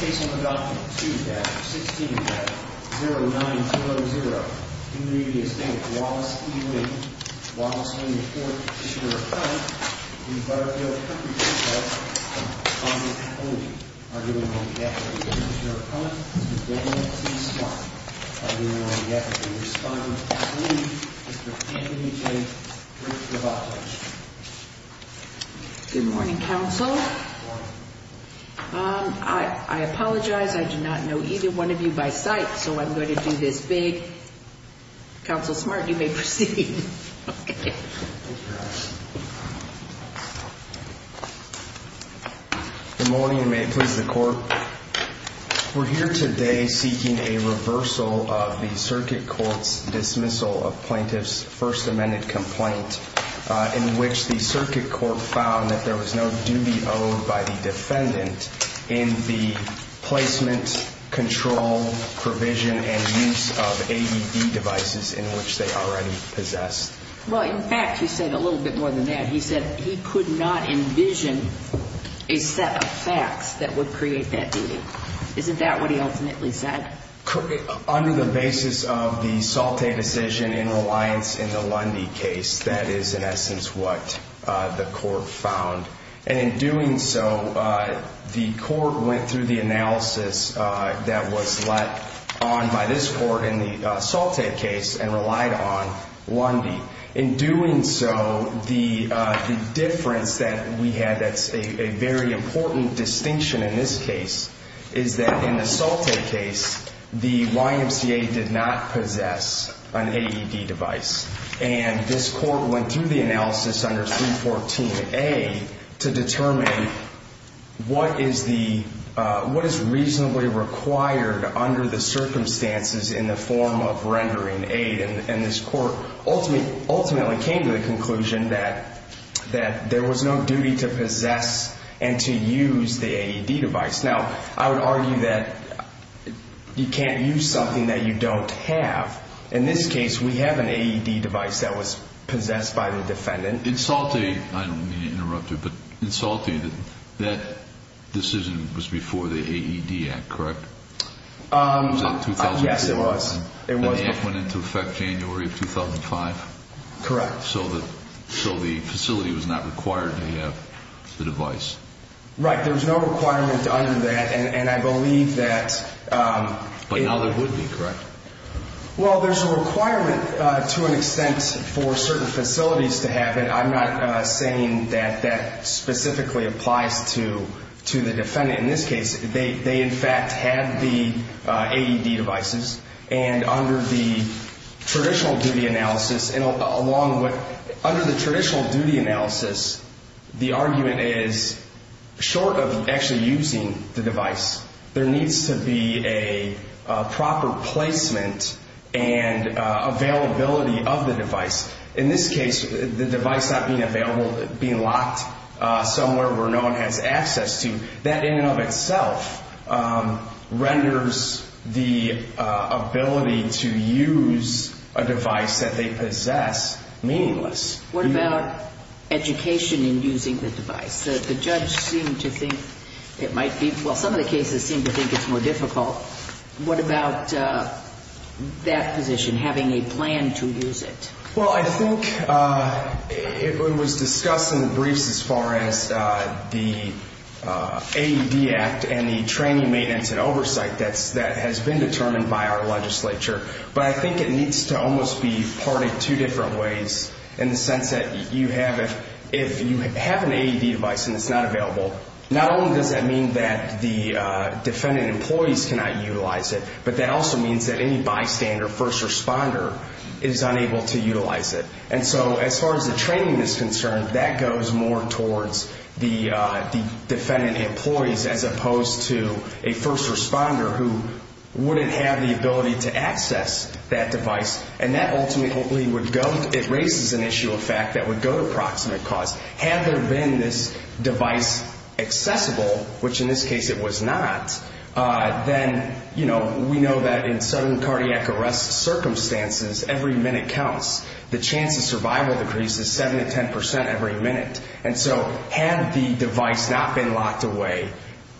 Case number document 2-16-0900. In re Estate of Wallace E. Williams, Wallace 24th petitioner of crime in the Butterfield Country Club, on the holding, arguing on behalf of the petitioner of crime, Mr. Daniel T. Smart, arguing on behalf of the respondent of the community, Mr. Anthony J. Briggs, of Op-Edge. Good morning, counsel. I apologize. I do not know either one of you by sight, so I'm going to do this big. Counsel Smart, you may proceed. Good morning, and may it please the Court. We're here today seeking a reversal of the circuit court's dismissal of the defendant in which the circuit court found that there was no duty owed by the defendant in the placement, control, provision, and use of AED devices in which they already possessed. Well, in fact, he said a little bit more than that. He said he could not envision a set of facts that would create that duty. Isn't that what he ultimately said? Under the basis of the Salte decision in reliance in the Lundy case, that is, in essence, what the court found. And in doing so, the court went through the analysis that was let on by this court in the Salte case and relied on Lundy. In doing so, the difference that we had that's a very important distinction in this case is that in the Salte case, the YMCA did not possess an AED device. And this court went through the analysis under 314A to determine what is reasonably required under the circumstances in the form of rendering aid. And this court ultimately came to the conclusion that there was no duty to possess and to use the AED device. Now, I would argue that you can't use something that you don't have. In this case, we have an AED device that was possessed by the defendant. In Salte, I don't mean to interrupt you, but in Salte, that decision was before the AED Act, correct? Was that in 2004? Yes, it was. And the act went into effect January of 2005? Correct. So the facility was not required to have the device? Right, there was no requirement under that, and I believe that- But now there would be, correct? Well, there's a requirement to an extent for certain facilities to have it. I'm not saying that that specifically applies to the defendant. In this case, they in fact had the AED devices. And under the traditional duty analysis, the argument is, short of actually using the device, there needs to be a proper placement and availability of the device. In this case, the device not being available, being locked somewhere where no one has access to, that in and of itself renders the ability to use a device that they possess meaningless. What about education in using the device? The judge seemed to think it might be- Well, some of the cases seem to think it's more difficult. What about that position, having a plan to use it? Well, I think it was discussed in the briefs as far as the AED Act and the training, maintenance, and oversight that has been determined by our legislature. But I think it needs to almost be parted two different ways, in the sense that if you have an AED device and it's not available, not only does that mean that the defendant employees cannot utilize it, but that also means that any bystander, first responder, is unable to utilize it. And so as far as the training is concerned, that goes more towards the defendant employees as opposed to a first responder who wouldn't have the ability to access that device. And that ultimately would go, it raises an issue of fact, that would go to proximate cause. Had there been this device accessible, which in this case it was not, then we know that in sudden cardiac arrest circumstances, every minute counts. The chance of survival decreases 7 to 10% every minute. And so had the device not been locked away,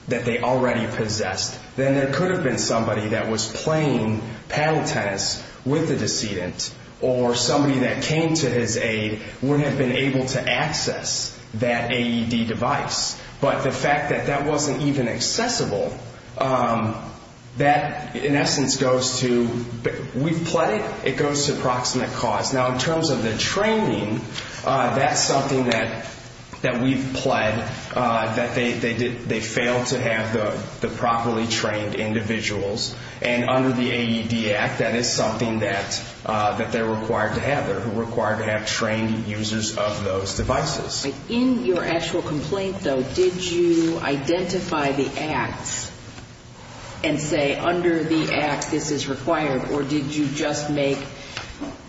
that they already possessed, then there could have been somebody that was playing paddle tennis with the decedent, or somebody that came to his aid would have been able to access that AED device. But the fact that that wasn't even accessible, that in essence goes to, we've pled it, it goes to proximate cause. Now in terms of the training, that's something that we've pled, that they failed to have the properly trained individuals. And under the AED Act, that is something that they're required to have. They're required to have trained users of those devices. In your actual complaint though, did you identify the acts and say under the act this is required, or did you just make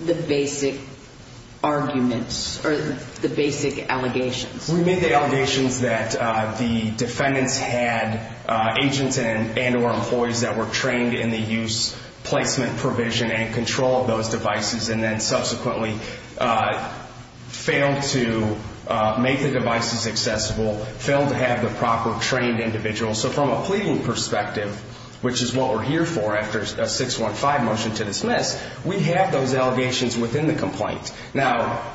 the basic arguments, or the basic allegations? We made the allegations that the defendants had agents and or employees that were trained in the use, placement, provision, and control of those devices, and then subsequently failed to make the devices accessible, failed to have the proper trained individuals. So from a pleading perspective, which is what we're here for after a 615 motion to dismiss, we have those allegations within the complaint. Now,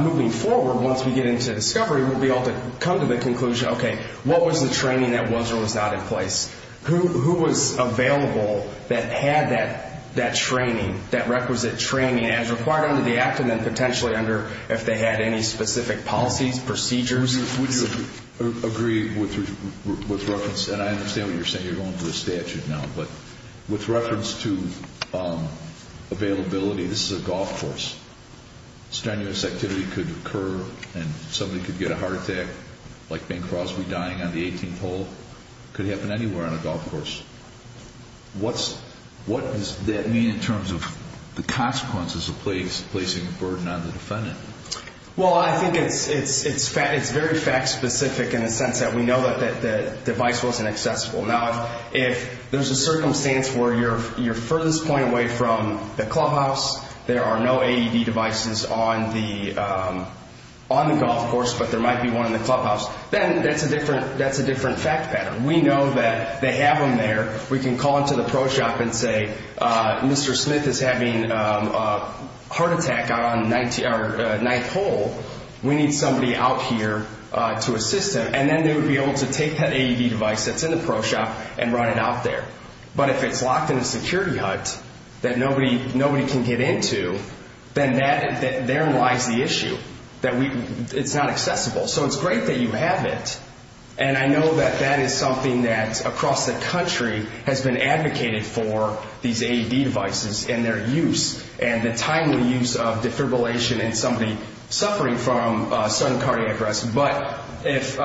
moving forward, once we get into discovery, we'll be able to come to the conclusion, okay, what was the training that was or was not in place? Who was available that had that training, that requisite training, as required under the act, and then potentially under, if they had any specific policies, procedures? Would you agree with reference, and I understand what you're saying, you're going to the statute now, but with reference to availability, this is a golf course. Strenuous activity could occur, and somebody could get a heart attack, like Bing Crosby dying on the 18th hole, could happen anywhere on a golf course. What does that mean in terms of the consequences of placing a burden on the defendant? Well, I think it's very fact specific in the sense that we know that the device wasn't accessible. Now, if there's a circumstance where you're furthest point away from the clubhouse, there are no AED devices on the golf course, but there might be one in the clubhouse, then that's a different fact pattern. We know that they have them there. We can call into the pro shop and say, Mr. Smith is having a heart attack out on the ninth hole. We need somebody out here to assist him. Then they would be able to take that AED device that's in the pro shop and run it out there. But if it's locked in a security hut that nobody can get into, then there lies the issue that it's not accessible. So it's great that you have it, and I know that that is something that across the country has been advocated for, these AED devices and their use, and the timely use of defibrillation in somebody suffering from sudden cardiac arrest. But if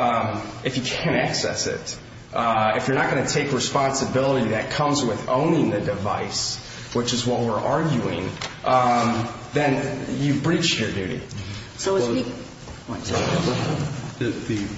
you can't access it, if you're not going to take responsibility that comes with owning the device, which is what we're arguing, then you've breached your duty. So is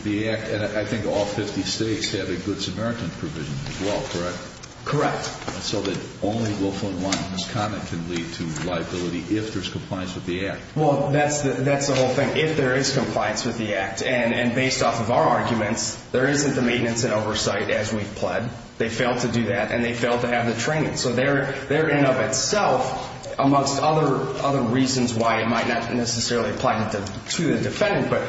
the act, and I think all 50 states have a Good Samaritan provision as well, correct? Correct. So that only Wilfrin-Wanton's comment can lead to liability if there's compliance with the act. Well, that's the whole thing. If there is compliance with the act, and based off of our arguments, there isn't the maintenance and oversight as we've pled. They failed to do that, and they failed to have the training. So they're, in and of itself, amongst other reasons why it might not necessarily apply to the defendant, but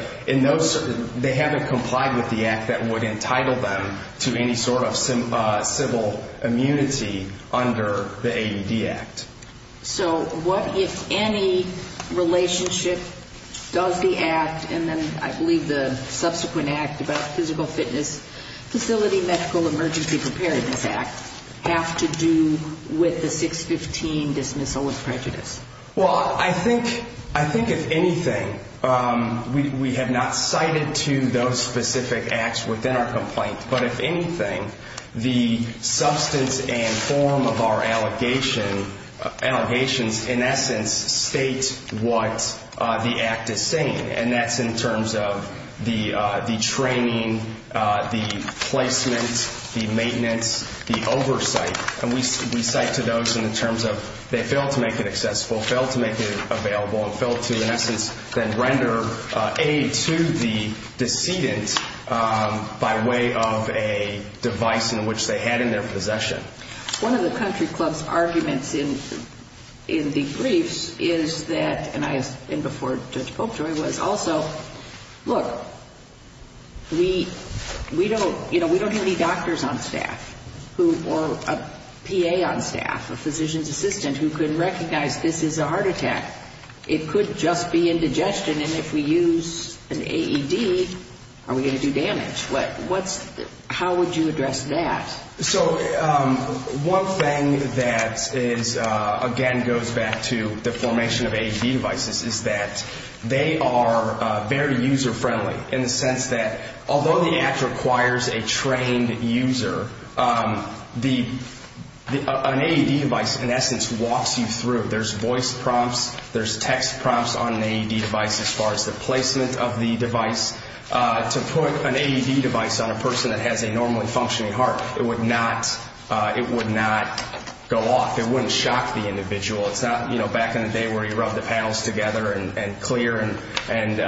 they haven't complied with the act that would entitle them to any sort of civil immunity under the AED Act. So what, if any, relationship does the act, and then I believe the subsequent act about physical fitness, Facility Medical Emergency Preparedness Act, have to do with the 615 dismissal with prejudice? Well, I think, if anything, we have not cited to those specific acts within our complaint. But if anything, the substance and form of our allegations, in essence, state what the act is saying. And that's in terms of the training, the placement, the maintenance, the oversight. And we cite to those in terms of they failed to make it accessible, failed to make it available, and failed to, in essence, then render aid to the defendant of a device in which they had in their possession. One of the country club's arguments in the briefs is that, and I, and before Judge Popejoy, was also, look, we don't, you know, we don't have any doctors on staff who, or a PA on staff, a physician's assistant, who could recognize this is a heart attack. It could just be indigestion. And if we use an AED, are we going to do damage? What's, how would you address that? So, one thing that is, again, goes back to the formation of AED devices is that they are very user friendly in the sense that, although the act requires a trained user, the, an AED device, in essence, walks you through. There's voice prompts, there's text prompts on an AED device as far as the AED device on a person that has a normally functioning heart. It would not, it would not go off. It wouldn't shock the individual. It's not, you know, back in the day where you rub the panels together and, and clear and, and,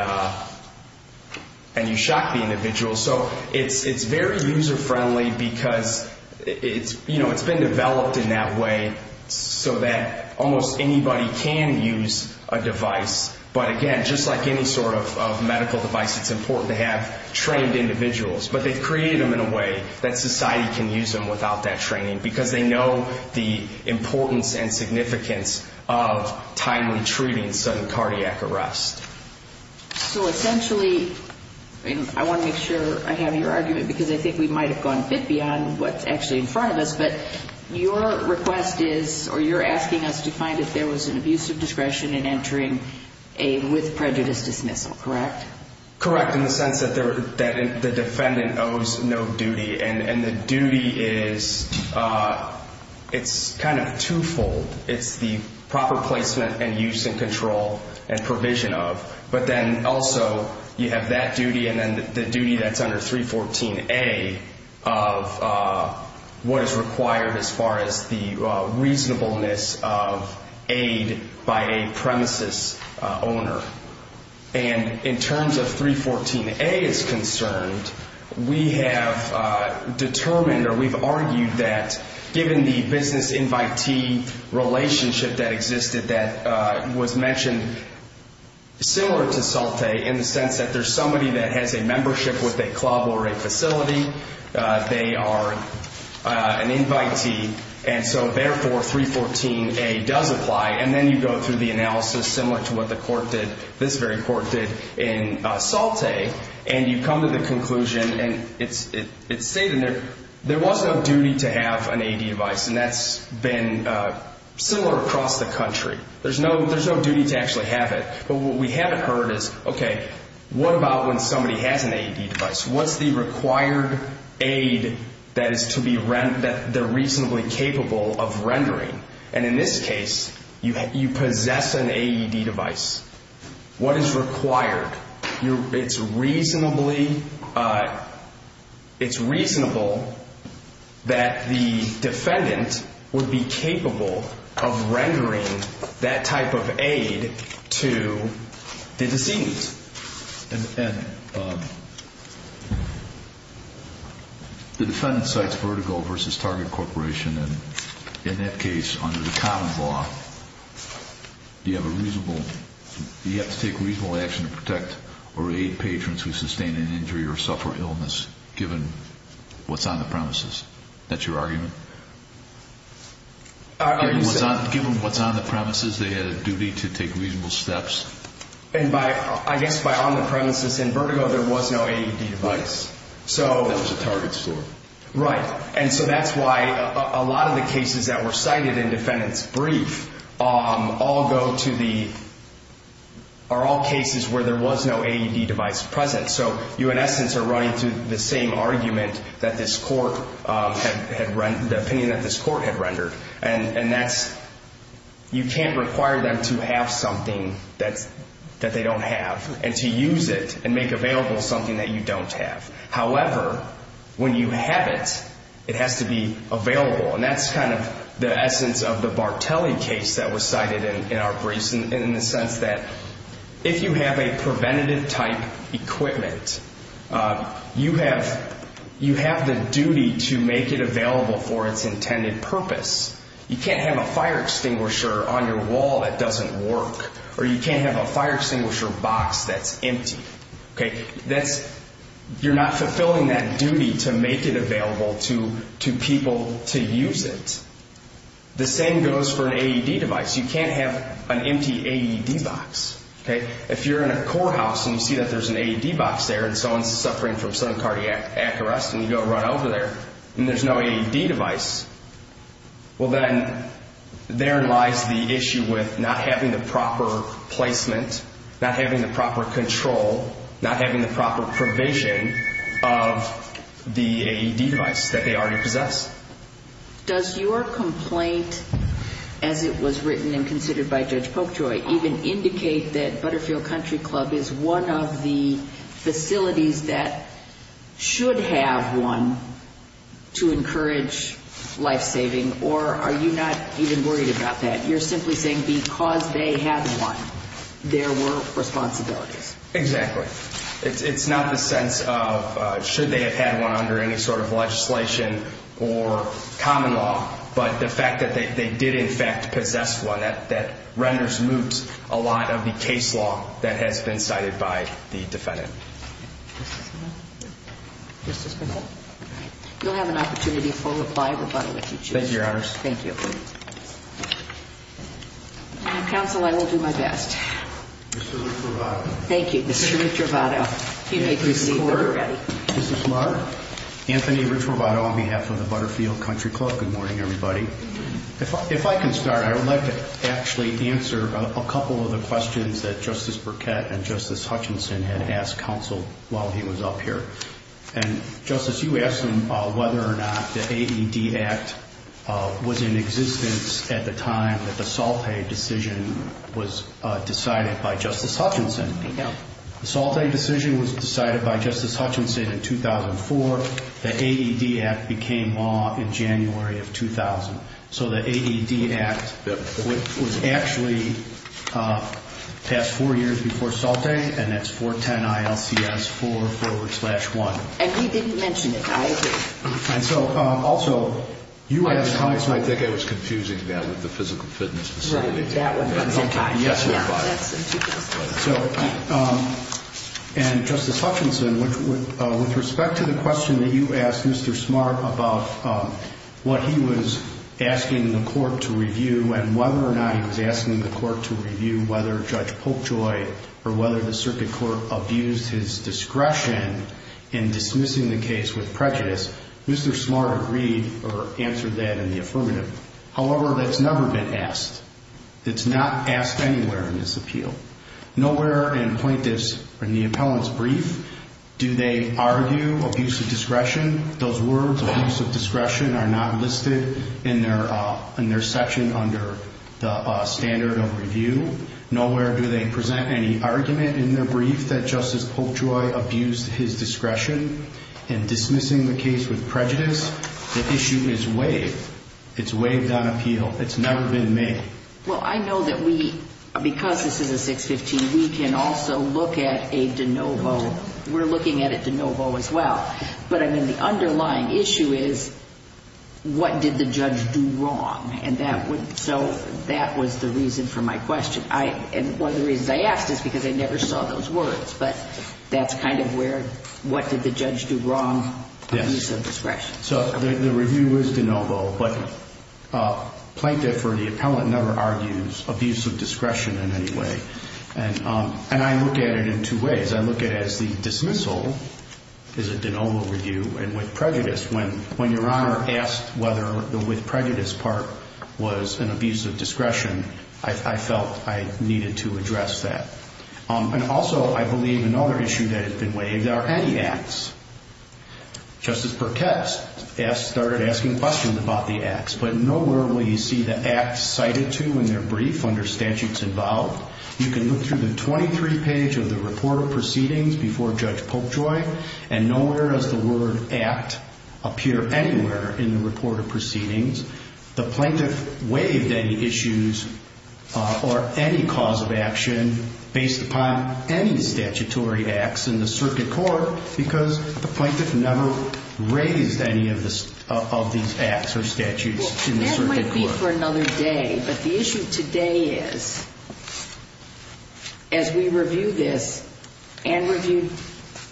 and you shock the individual. So it's, it's very user friendly because it's, you know, it's been developed in that way so that almost anybody can use a device, but again, just like any sort of, of medical device, it's important to have trained individuals, but they've created them in a way that society can use them without that training because they know the importance and significance of timely treating sudden cardiac arrest. So essentially, I want to make sure I have your argument because I think we might have gone a bit beyond what's actually in front of us, but your request is, or you're asking us to find if there was an abuse of discretion in entering AED with prejudice dismissal, correct? Correct. In the sense that there, that the defendant owes no duty and, and the duty is, it's kind of twofold. It's the proper placement and use and control and provision of, but then also you have that duty and then the duty that's under 314A of what is required as the reasonableness of AED by a premises owner. And in terms of 314A is concerned, we have determined or we've argued that given the business invitee relationship that existed that was mentioned similar to Salte in the sense that there's somebody that has a membership with a And so therefore 314A does apply and then you go through the analysis similar to what the court did, this very court did in Salte and you come to the conclusion and it's, it's stated there, there was no duty to have an AED device and that's been similar across the country. There's no, there's no duty to actually have it. But what we haven't heard is, okay, what about when somebody has an AED device? What's the required aid that is to be, that they're reasonably capable of rendering? And in this case, you, you possess an AED device. What is required? You're, it's reasonably, it's reasonable that the defendant would be capable of rendering that type of aid to the decedent. And, and the defendant cites Vertigo versus Target Corporation. And in that case, under the common law, you have a reasonable, you have to take reasonable action to protect or aid patrons who sustained an injury or suffer illness, given what's on the premises. That's your argument? Given what's on the premises, they had a duty to take reasonable steps. And by, I guess, by on the premises in Vertigo, there was no AED device. So. That was a target score. Right. And so that's why a lot of the cases that were cited in defendant's brief, all go to the, are all cases where there was no AED device present. So you, in essence, are running to the same argument that this court had, had rendered, the opinion that this court had rendered and, and that's, you can't require them to have something that's, that they don't have and to use it and make available something that you don't have. However, when you have it, it has to be available. And that's kind of the essence of the Bartelli case that was cited in, in our briefs in, in the sense that if you have a preventative type equipment you have, you have the duty to make it available for its intended purpose. You can't have a fire extinguisher on your wall that doesn't work or you can't have a fire extinguisher box that's empty. Okay. That's, you're not fulfilling that duty to make it available to, to people to use it. The same goes for an AED device. You can't have an empty AED box. Okay. If you're in a courthouse and you see that there's an AED box there and someone's suffering from psychic cardiac arrest and you go run over there and there's no AED device, well then there lies the issue with not having the proper placement, not having the proper control, not having the proper provision of the AED device that they already possess. Does your complaint, as it was written and considered by Judge Polkjoy, even indicate that Butterfield Country Club is one of the facilities that should have one to encourage life-saving or are you not even worried about that? You're simply saying because they have one, there were responsibilities. Exactly. It's, it's not the sense of should they have had one under any sort of legislation or common law, but the fact that they did in fact possess one, that, that renders moot a lot of the case law that has been cited by the defendant. Thank you. Mr. Spencer? You'll have an opportunity to fully reply, but I'll let you choose. Thank you, Your Honors. Thank you. Counsel, I will do my best. Mr. Ricciarobato. Thank you. Mr. Ricciarobato. He may proceed when you're ready. Mr. McCord. Mrs. Mark. Anthony Ricciarobato on behalf of the Butterfield Country Club. Good morning, everybody. If I can start, I would like to actually answer a couple of the questions that Justice Burkett and Justice Hutchinson had asked. was up here. And, Justice, you asked them whether or not the AED Act was in existence at the time that the Salte decision was decided by Justice Hutchinson. No. The Salte decision was decided by Justice Hutchinson in 2004. The AED Act became law in January of 2000. So the AED Act was actually passed four years before Salte, and that's 410 ILCS 4 forward slash 1. And he didn't mention it. I agree. And so, also, you asked how it's... I think I was confusing that with the physical fitness facility. Right. That was at the time. Yes, it was. So, and, Justice Hutchinson, with respect to the question that you asked Mr. Smart about what he was asking the court to review and whether or not he was asking the court to review whether Judge Polkjoy or whether the circuit court abused his discretion in dismissing the case with prejudice, Mr. Smart agreed or answered that in the affirmative. However, that's never been asked. It's not asked anywhere in this appeal. Nowhere in plaintiff's or in the appellant's brief do they argue abusive discretion. Those words, abusive discretion, are not listed in their section under the standard of review. Nowhere do they present any argument in their brief that Justice Polkjoy abused his discretion in dismissing the case with prejudice. The issue is waived. It's waived on appeal. It's never been made. Well, I know that we, because this is a 615, we can also look at a de novo. We're looking at a de novo as well. But, I mean, the underlying issue is what did the judge do wrong? And that would, so that was the reason for my question. And one of the reasons I asked is because I never saw those words. But that's kind of where, what did the judge do wrong? Yes. Abuse of discretion. So the review is de novo, but plaintiff or the appellant never argues abuse of discretion in any way. And I look at it in two ways. I look at it as the dismissal is a de novo review and with prejudice. When Your Honor asked whether the with prejudice part was an abuse of discretion, I felt I needed to address that. And also, I believe another issue that has been waived are anti-acts. Justice Pertest started asking questions about the acts, but nowhere will you see the acts cited to in their brief under statutes involved. You can look through the 23 page of the report of proceedings before Judge Polkjoy and nowhere does the word act appear anywhere in the report of proceedings. The plaintiff waived any issues or any cause of action based upon any statutory acts in the circuit court because the plaintiff never raised any of these acts or statutes in the circuit court. But the issue today is as we review this and review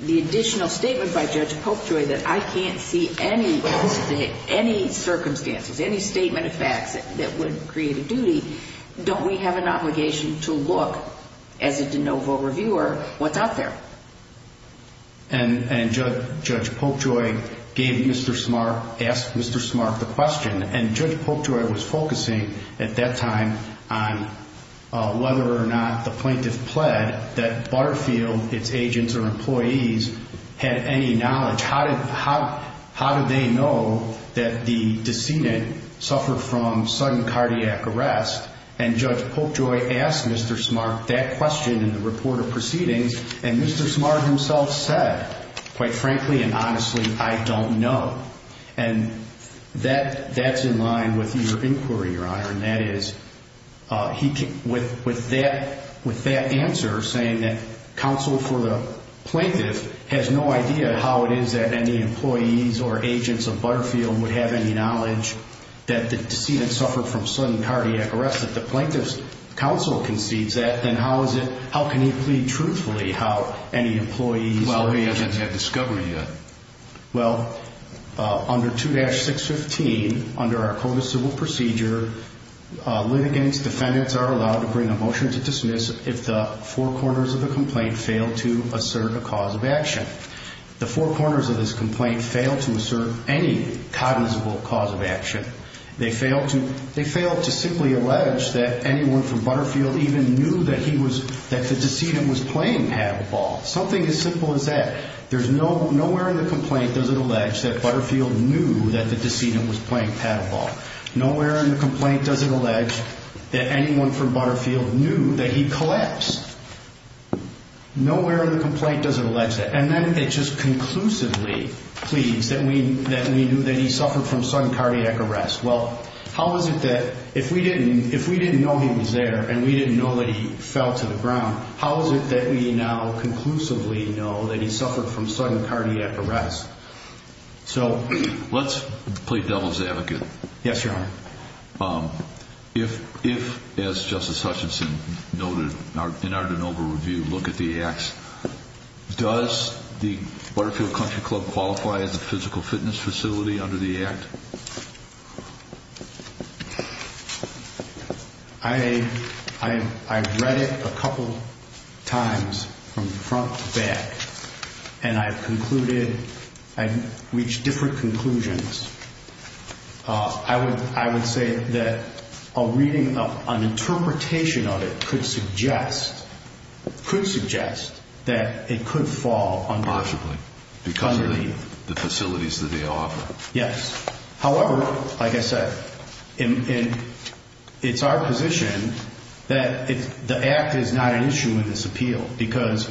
the additional statement by Judge Polkjoy that I can't see any circumstances, any statement of facts that would create a duty, don't we have an obligation to look as a de novo reviewer what's out there? And Judge Polkjoy gave Mr. Smart, asked Mr. Smart the question and Judge Polkjoy was focusing at that time on whether or not the plaintiff pled that Butterfield, its agents or employees had any knowledge. How did they know that the decedent suffered from sudden cardiac arrest? And Judge Polkjoy asked Mr. Smart that question in the report of proceedings and Mr. Smart himself said, quite frankly and honestly, I don't know. And that's in line with your inquiry, Your Honor, and that is with that answer saying that counsel for the plaintiff has no idea how it is that any employees or agents of Butterfield would have any knowledge that the decedent suffered from sudden cardiac arrest. If the plaintiff's counsel concedes that, then how can he plead truthfully how any employees or agents? Well, he doesn't have discovery yet. Well, under 2-615, under our Code of Civil Procedure, litigants, defendants are allowed to bring a motion to dismiss if the four corners of the complaint fail to assert a cause of action. The four corners of this complaint fail to assert any cognizable cause of action. They fail to simply allege that anyone from Butterfield even knew that the decedent was playing pad ball. Something as simple as that. There's nowhere in the complaint does it allege that Butterfield knew that the decedent was playing pad ball. Nowhere in the complaint does it allege that anyone from Butterfield knew that he collapsed. Nowhere in the complaint does it allege that. And then it just conclusively pleads that we knew that he suffered from sudden cardiac arrest. Well, how is it that if we didn't know he was there and we didn't know that he fell to the ground, how is it that we now conclusively know that he suffered from sudden cardiac arrest? So let's play devil's advocate. Yes, Your Honor. If, as Justice Hutchinson noted in our de novo review, look at the acts, does the Butterfield Country Club qualify as a physical fitness facility under the act? I read it a couple times from front to back, and I've concluded, I've reached different conclusions. I would say that a reading, an interpretation of it could suggest, could suggest that it could fall under. Partially. Underneath. Because of the facilities that they offer. Yes. However, like I said, it's our position that the act is not an issue in this appeal, because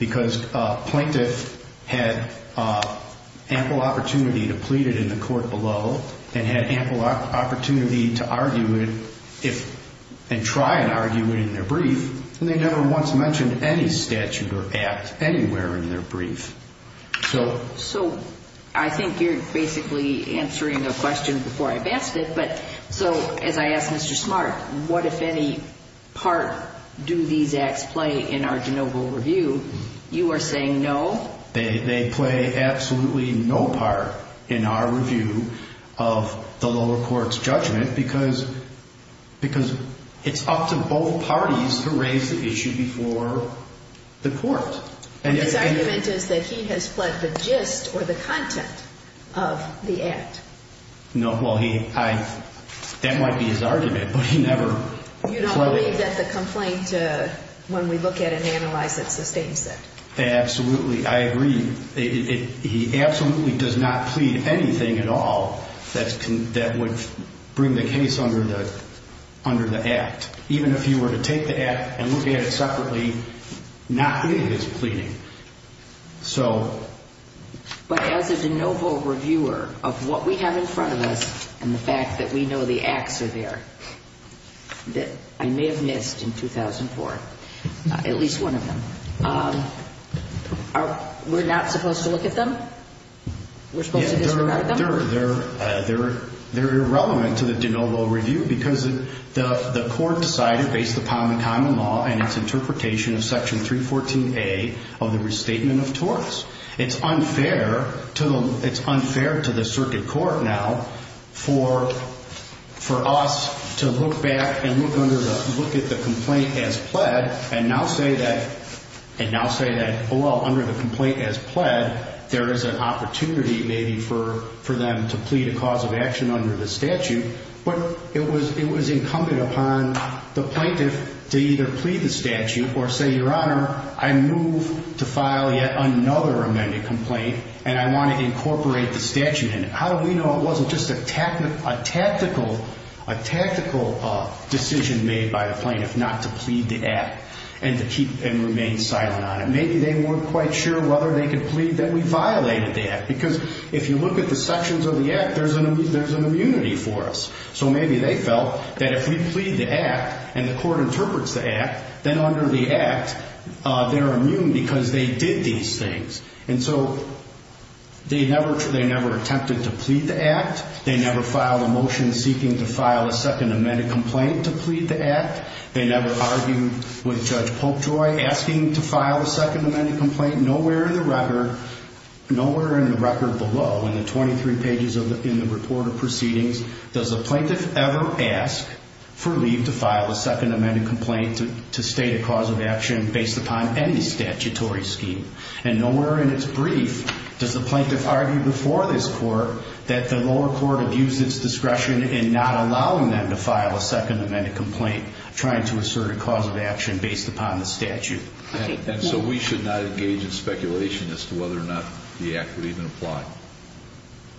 a plaintiff had ample opportunity to plead it in the court below and had ample opportunity to argue it and try and argue it in their brief, and they never once mentioned any statute or act anywhere in their brief. So I think you're basically answering a question before I've asked it, but so as I asked Mr. Smart, what, if any, part do these acts play in our de novo review? You are saying no. They play absolutely no part in our review of the lower court's judgment, because it's up to both parties to raise the issue before the court. His argument is that he has fled the gist or the content of the act. No. Well, he, I, that might be his argument, but he never. You don't believe that the complaint, when we look at it and analyze it, sustains it. Absolutely. I agree. He absolutely does not plead anything at all that would bring the case under the act. Even if you were to take the act and look at it separately, not in his pleading. So. But as a de novo reviewer of what we have in front of us and the fact that we know the acts are there, that I may have missed in 2004, at least one of them, we're not supposed to look at them? We're supposed to disregard them? They're irrelevant to the de novo review because the court decided, based upon the common law and its interpretation of section 314A of the restatement of torts, it's unfair to the circuit court now for us to look back and look at the complaint as pled and now say that, well, under the complaint as pled, there is an opportunity maybe for them to plead a cause of action under the statute. But it was incumbent upon the plaintiff to either plead the statute or say, Your Honor, I move to file yet another amended complaint and I want to incorporate the statute in it. How do we know it wasn't just a tactical decision made by the plaintiff not to plead the act and to keep and remain silent on it? Maybe they weren't quite sure whether they could plead that we violated the act because if you look at the sections of the act, there's an immunity for us. So maybe they felt that if we plead the act and the court interprets the act, then under the act, they're immune because they did these things. And so they never attempted to plead the act. They never filed a motion seeking to file a second amended complaint to plead the act. They never argued with Judge Popejoy asking to file a second amended complaint. Nowhere in the record below in the 23 pages in the report of proceedings does a plaintiff ever ask for leave to file a second amended complaint to state a cause of action based upon any statutory scheme. And nowhere in its brief does the plaintiff argue before this court that the lower court abused its discretion in not allowing them to file a second amended complaint trying to assert a cause of action based upon the statute. And so we should not engage in speculation as to whether or not the act would even apply?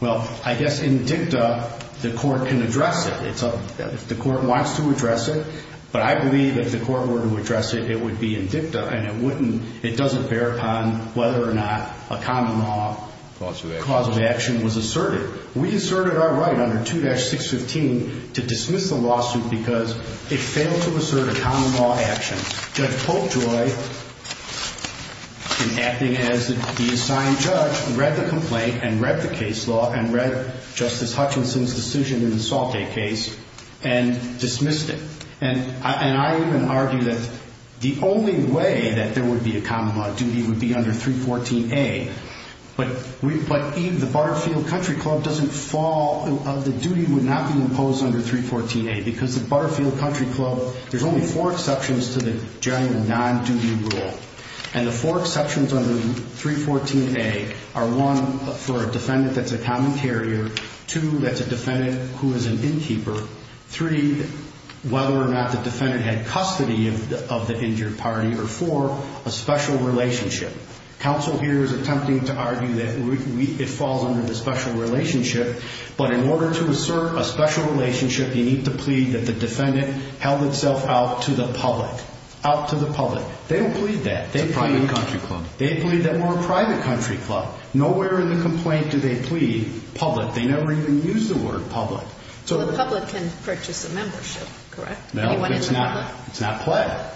Well, I guess in dicta, the court can address it. If the court wants to address it, but I believe if the court were to address it, it would be in dicta and it doesn't bear upon whether or not a common law cause of action was asserted. We asserted our right under 2-615 to dismiss the lawsuit because it failed to assert a common law action. Judge Popejoy, in acting as the assigned judge, read the complaint and read the case law and read Justice Hutchinson's decision in the Salt Lake case and dismissed it. And I even argue that the only way that there would be a common law duty would be under 314A. But the Butterfield Country Club doesn't fall, the duty would not be imposed under 314A because the Butterfield Country Club, there's only four exceptions to the general non-duty rule. And the four exceptions under 314A are one, for a defendant that's a common carrier, two, that's a defendant who is an innkeeper, three, whether or not the defendant had custody of the injured party, or four, a special relationship. Counsel here is attempting to argue that it falls under the special relationship, but in order to assert a special relationship, you need to plead that the defendant held itself out to the public. Out to the public. They don't plead that. It's a private country club. They plead that we're a private country club. Nowhere in the complaint do they plead public. They never even use the word public. The public can purchase a membership, correct? No, but it's not pled.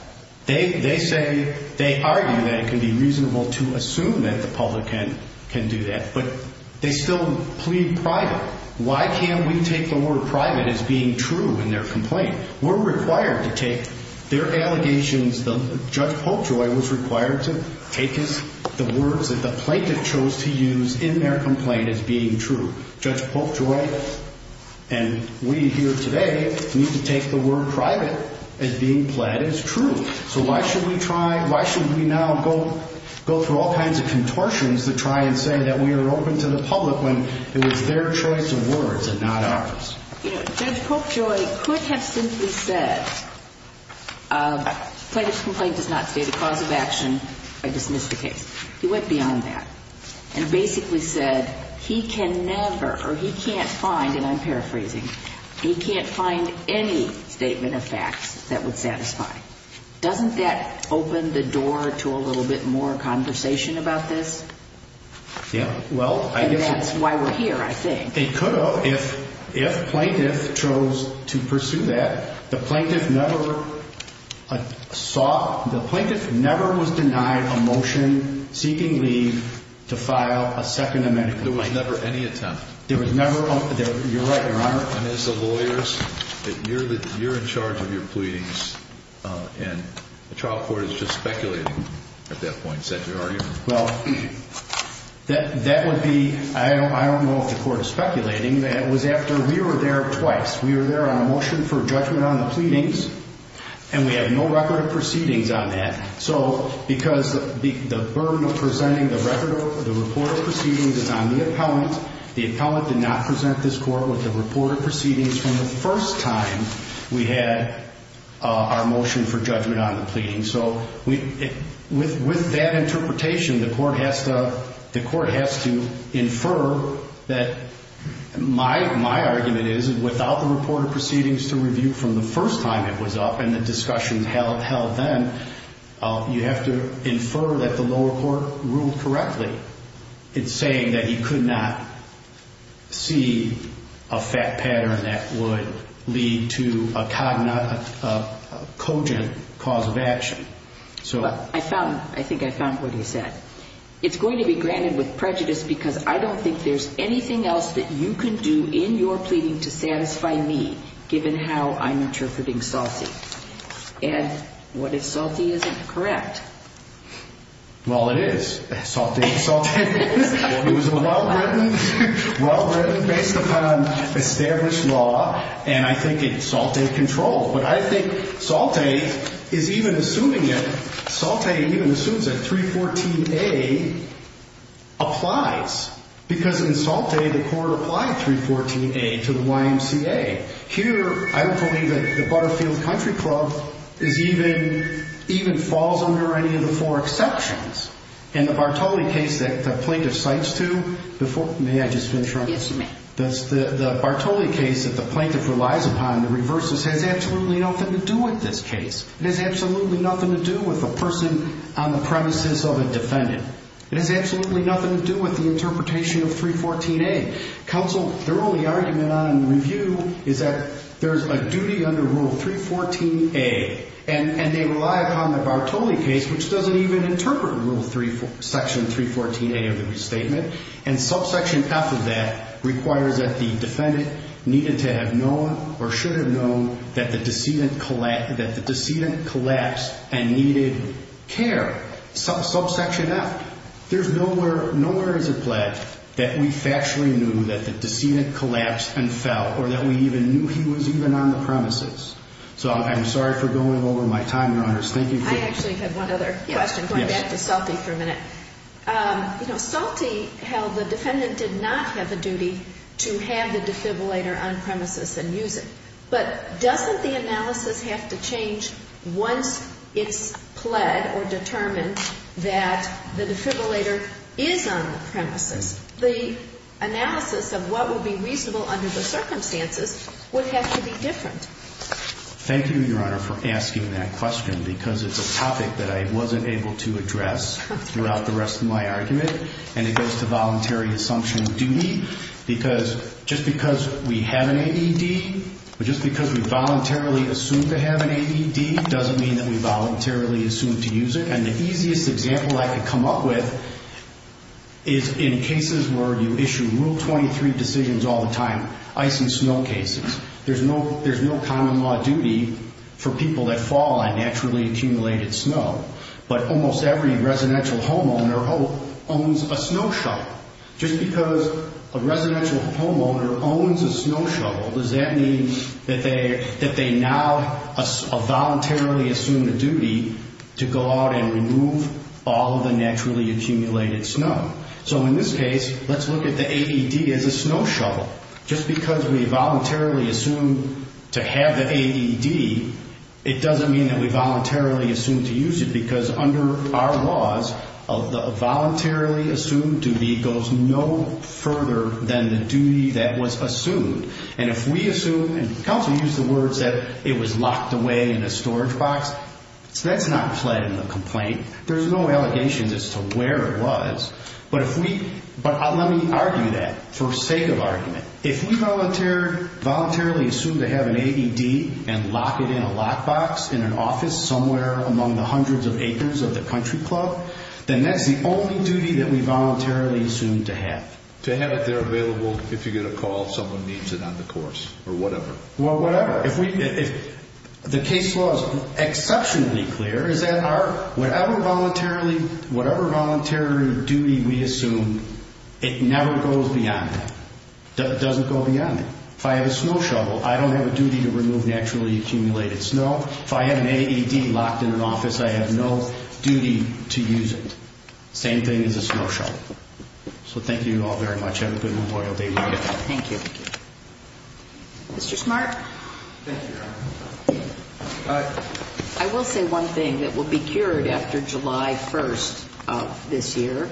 They say, they argue that it can be reasonable to assume that the public can do that, but they still plead private. Why can't we take the word private as being true in their complaint? We're required to take their allegations. Judge Polkjoy was required to take the words that the plaintiff chose to use in their complaint as being true. Judge Polkjoy and we here today need to take the word private as being pled as true. So why should we now go through all kinds of contortions to try and say that we are open to the public when it was their choice of words and not ours? Judge Polkjoy could have simply said, plaintiff's complaint does not state a cause of action. I dismiss the case. He went beyond that and basically said he can never or he can't find, and I'm paraphrasing, he can't find any statement of facts that would satisfy. Doesn't that open the door to a little bit more conversation about this? Yeah, well, I guess. And that's why we're here, I think. It could have if plaintiff chose to pursue that. The plaintiff never saw, the plaintiff never was denied a motion seeking leave to file a second amendment. There was never any attempt. There was never, you're right, Your Honor. And as the lawyers, you're in charge of your pleadings, and the trial court is just speculating at that point. Is that your argument? Well, that would be, I don't know if the court is speculating, but it was after we were there twice. We were there on a motion for judgment on the pleadings, and we have no record of proceedings on that. So because the burden of presenting the record of the report of proceedings is on the appellant, the appellant did not present this court with the report of proceedings from the first time we had our motion for judgment on the pleadings. So with that interpretation, the court has to infer that my argument is, without the report of proceedings to review from the first time it was up and the discussion held then, you have to infer that the lower court ruled correctly in saying that he could not see a fact pattern that would lead to a cogent cause of action. I think I found what he said. It's going to be granted with prejudice because I don't think there's anything else that you can do in your pleading to satisfy me, given how I'm interpreting Salty. And what if Salty isn't correct? Well, it is. Salty is. It was a well-written, well-written, based upon established law, and I think Salty controlled. But I think Salty is even assuming it. Salty even assumes that 314A applies because in Salty, the court applied 314A to the YMCA. Here, I don't believe that the Butterfield Country Club is even, even falls under any of the four exceptions. And the Bartoli case that the plaintiff cites to, may I just finish? Yes, you may. The Bartoli case that the plaintiff relies upon, the reverses, has absolutely nothing to do with this case. It has absolutely nothing to do with the person on the premises of a defendant. It has absolutely nothing to do with the interpretation of 314A. Counsel, their only argument on review is that there's a duty under Rule 314A, and they rely upon the Bartoli case, which doesn't even interpret Rule 3, Section 314A of the restatement, and subsection F of that requires that the defendant needed to have known or should have known that the decedent collapsed and needed care. Subsection F. There's nowhere, nowhere is it pledged that we factually knew that the decedent collapsed and fell, or that we even knew he was even on the premises. So I'm sorry for going over my time, Your Honors. Thank you. I actually have one other question, going back to Salte for a minute. You know, Salte held the defendant did not have a duty to have the defibrillator on premises and use it. But doesn't the analysis have to change once it's pled or determined that the defibrillator is on the premises? The analysis of what would be reasonable under the circumstances would have to be different. Thank you, Your Honor, for asking that question, because it's a topic that I wasn't able to address throughout the rest of my argument, and it goes to voluntary assumption of duty, because just because we have an AED, or just because we voluntarily assume to have an AED doesn't mean that we voluntarily assume to use it. And the easiest example I could come up with is in cases where you issue Rule 23 decisions all the time, ice and snow cases. There's no common law duty for people that fall on naturally accumulated snow, but almost every residential homeowner owns a snow shovel. Just because a residential homeowner owns a snow shovel, does that mean that they now voluntarily assume the duty to go out and remove all of the naturally accumulated snow? So in this case, let's look at the AED as a snow shovel. Just because we voluntarily assume to have the AED, it doesn't mean that we voluntarily assume to use it, because under our laws, the voluntarily assumed duty goes no further than the duty that was assumed. And if we assume, and counsel used the words that it was locked away in a storage box, that's not pled in the complaint. There's no allegations as to where it was. But let me argue that for sake of argument. If we voluntarily assume to have an AED and lock it in a lock box in an office somewhere among the hundreds of acres of the country club, then that's the only duty that we voluntarily assume to have. To have it there available if you get a call, someone needs it on the course, or whatever. The case law is exceptionally clear is that whatever voluntary duty we assume, it never goes beyond that. It doesn't go beyond that. If I have a snow shovel, I don't have a duty to remove naturally accumulated snow. If I have an AED locked in an office, I have no duty to use it. Same thing as a snow shovel. So thank you all very much. Have a good Memorial Day weekend. Thank you. Mr. Smart? Thank you, Your Honor. I will say one thing that will be cured after July 1st of this year.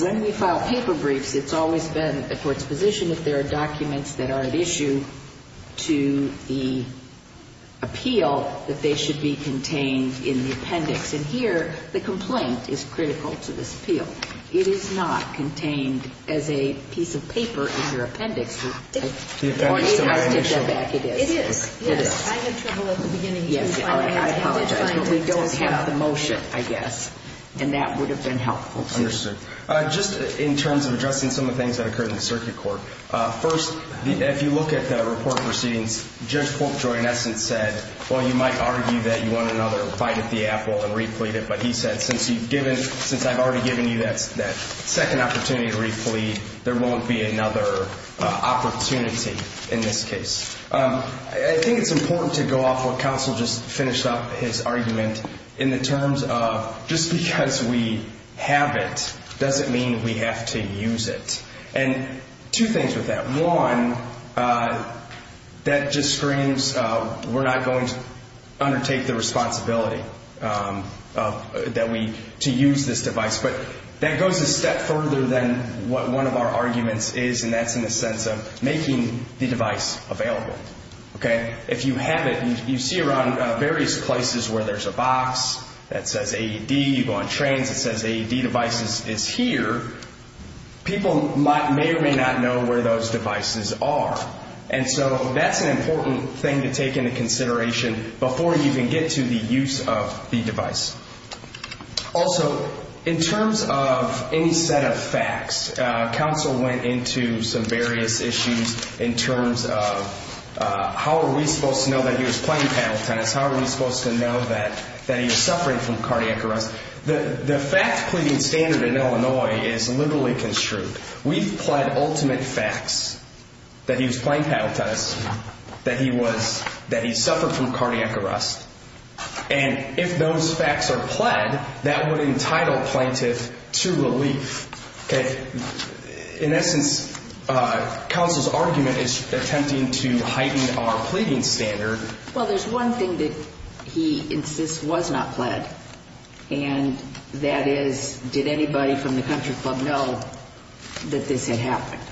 When we file paper briefs, it's always been the court's position if there are documents that are at issue to the appeal, that they should be contained in the appendix. And here, the complaint is critical to this appeal. It is not contained as a piece of paper in your appendix. The appendix is still there. It is. Yes. I had trouble at the beginning. Yes. I apologize. But we don't have the motion, I guess. And that would have been helpful. Understood. Just in terms of addressing some of the things that occurred in the circuit court. First, if you look at the report proceedings, Judge Polkjoy, in essence, said, well, you might argue that you want another bite at the apple and replete it. But he said, since I've already given you that second opportunity to replete, there won't be another opportunity in this case. I think it's important to go off what counsel just finished up, his argument, in the terms of just because we have it doesn't mean we have to use it. And two things with that. One, that just screams we're not going to undertake the responsibility to use this device. But that goes a step further than what one of our arguments is, and that's in the sense of making the device available. If you have it, you see around various places where there's a box that says AED. You go on trains, it says AED devices is here. People may or may not know where those devices are. And so that's an important thing to take into consideration before you can get to the use of the device. Also, in terms of any set of facts, counsel went into some various issues in terms of how are we supposed to know that he was playing paddle tennis? How are we supposed to know that he was suffering from cardiac arrest? The fact pleading standard in Illinois is liberally construed. We've pled ultimate facts that he was playing paddle tennis, that he suffered from cardiac arrest. And if those facts are pled, that would entitle plaintiff to relief. In essence, counsel's argument is attempting to heighten our pleading standard. Well, there's one thing that he insists was not pled, and that is, did anybody from the country club know that this had happened?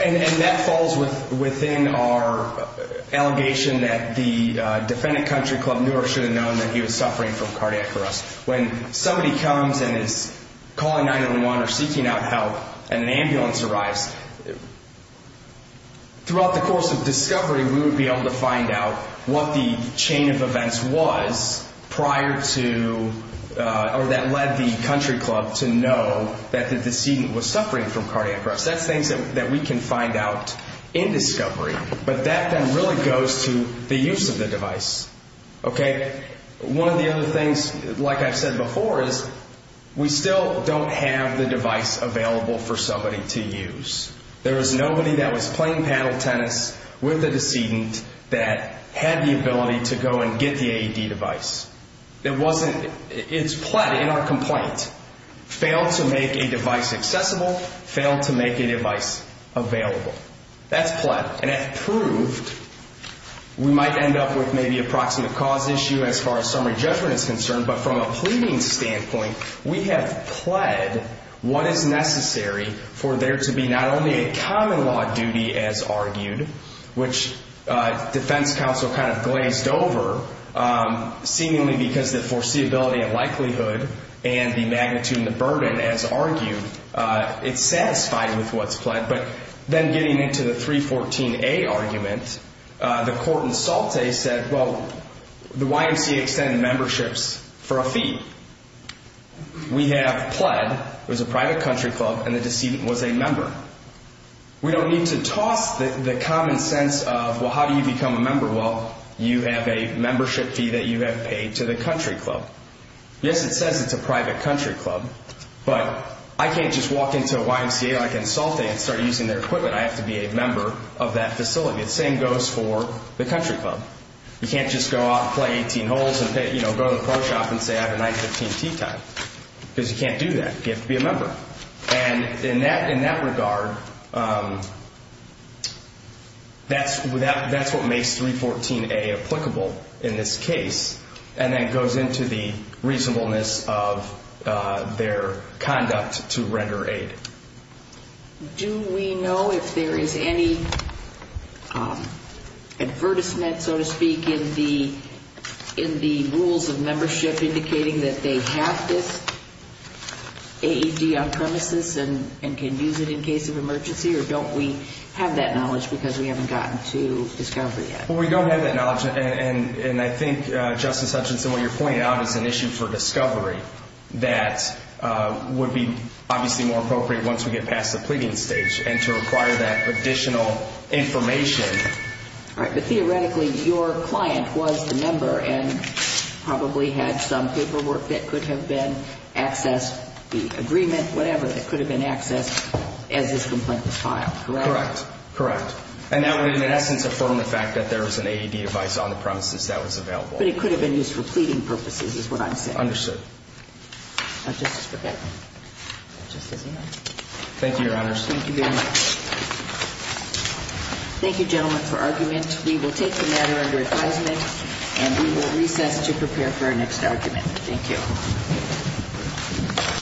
And that falls within our allegation that the defendant country club knew or should have known that he was suffering from cardiac arrest. When somebody comes and is calling 911 or seeking out help and an ambulance arrives, throughout the course of discovery, we would be able to find out what the chain of events was prior to or that led the country club to know that the decedent was suffering from cardiac arrest. That's things that we can find out in discovery. But that then really goes to the use of the device. One of the other things, like I've said before, is we still don't have the device available for somebody to use. There was nobody that was playing paddle tennis with the decedent that had the ability to go and get the AED device. It's pled in our complaint. Failed to make a device accessible, failed to make a device available. That's pled. And it proved we might end up with maybe a proximate cause issue as far as summary judgment is concerned, but from a pleading standpoint, we have pled what is necessary for there to be not only a common law duty, as argued, which defense counsel kind of glazed over, seemingly because the foreseeability and likelihood and the magnitude and the burden, as argued, it's satisfied with what's pled. But then getting into the 314A argument, the court in Salte said, well, the YMCA extended memberships for a fee. We have pled, it was a private country club, and the decedent was a member. We don't need to toss the common sense of, well, how do you become a member? Well, you have a membership fee that you have paid to the country club. Yes, it says it's a private country club, but I can't just walk into a YMCA like in Salte and start using their equipment. I have to be a member of that facility. The same goes for the country club. You can't just go out and play 18 holes and go to the pro shop and say I have a 915T tie because you can't do that. You have to be a member. And in that regard, that's what makes 314A applicable in this case, and that goes into the reasonableness of their conduct to render aid. Do we know if there is any advertisement, so to speak, in the rules of membership indicating that they have this AED on premises and can use it in case of emergency, or don't we have that knowledge because we haven't gotten to discovery yet? Well, we don't have that knowledge, and I think, Justice Hutchinson, what you're pointing out is an issue for discovery that would be obviously more appropriate once we get past the pleading stage and to require that additional information. All right, but theoretically, your client was the member and probably had some paperwork that could have been accessed, the agreement, whatever, that could have been accessed as his complaint was filed, correct? Correct, correct. And that would, in essence, afford him the fact that there is an AED device on the premises that was available. But it could have been used for pleading purposes is what I'm saying. Understood. All right, Justice Breyer. That just does it. Thank you, Your Honors. Thank you very much. Thank you, gentlemen, for argument. We will take the matter under advisement and we will recess to prepare for our next argument. Thank you.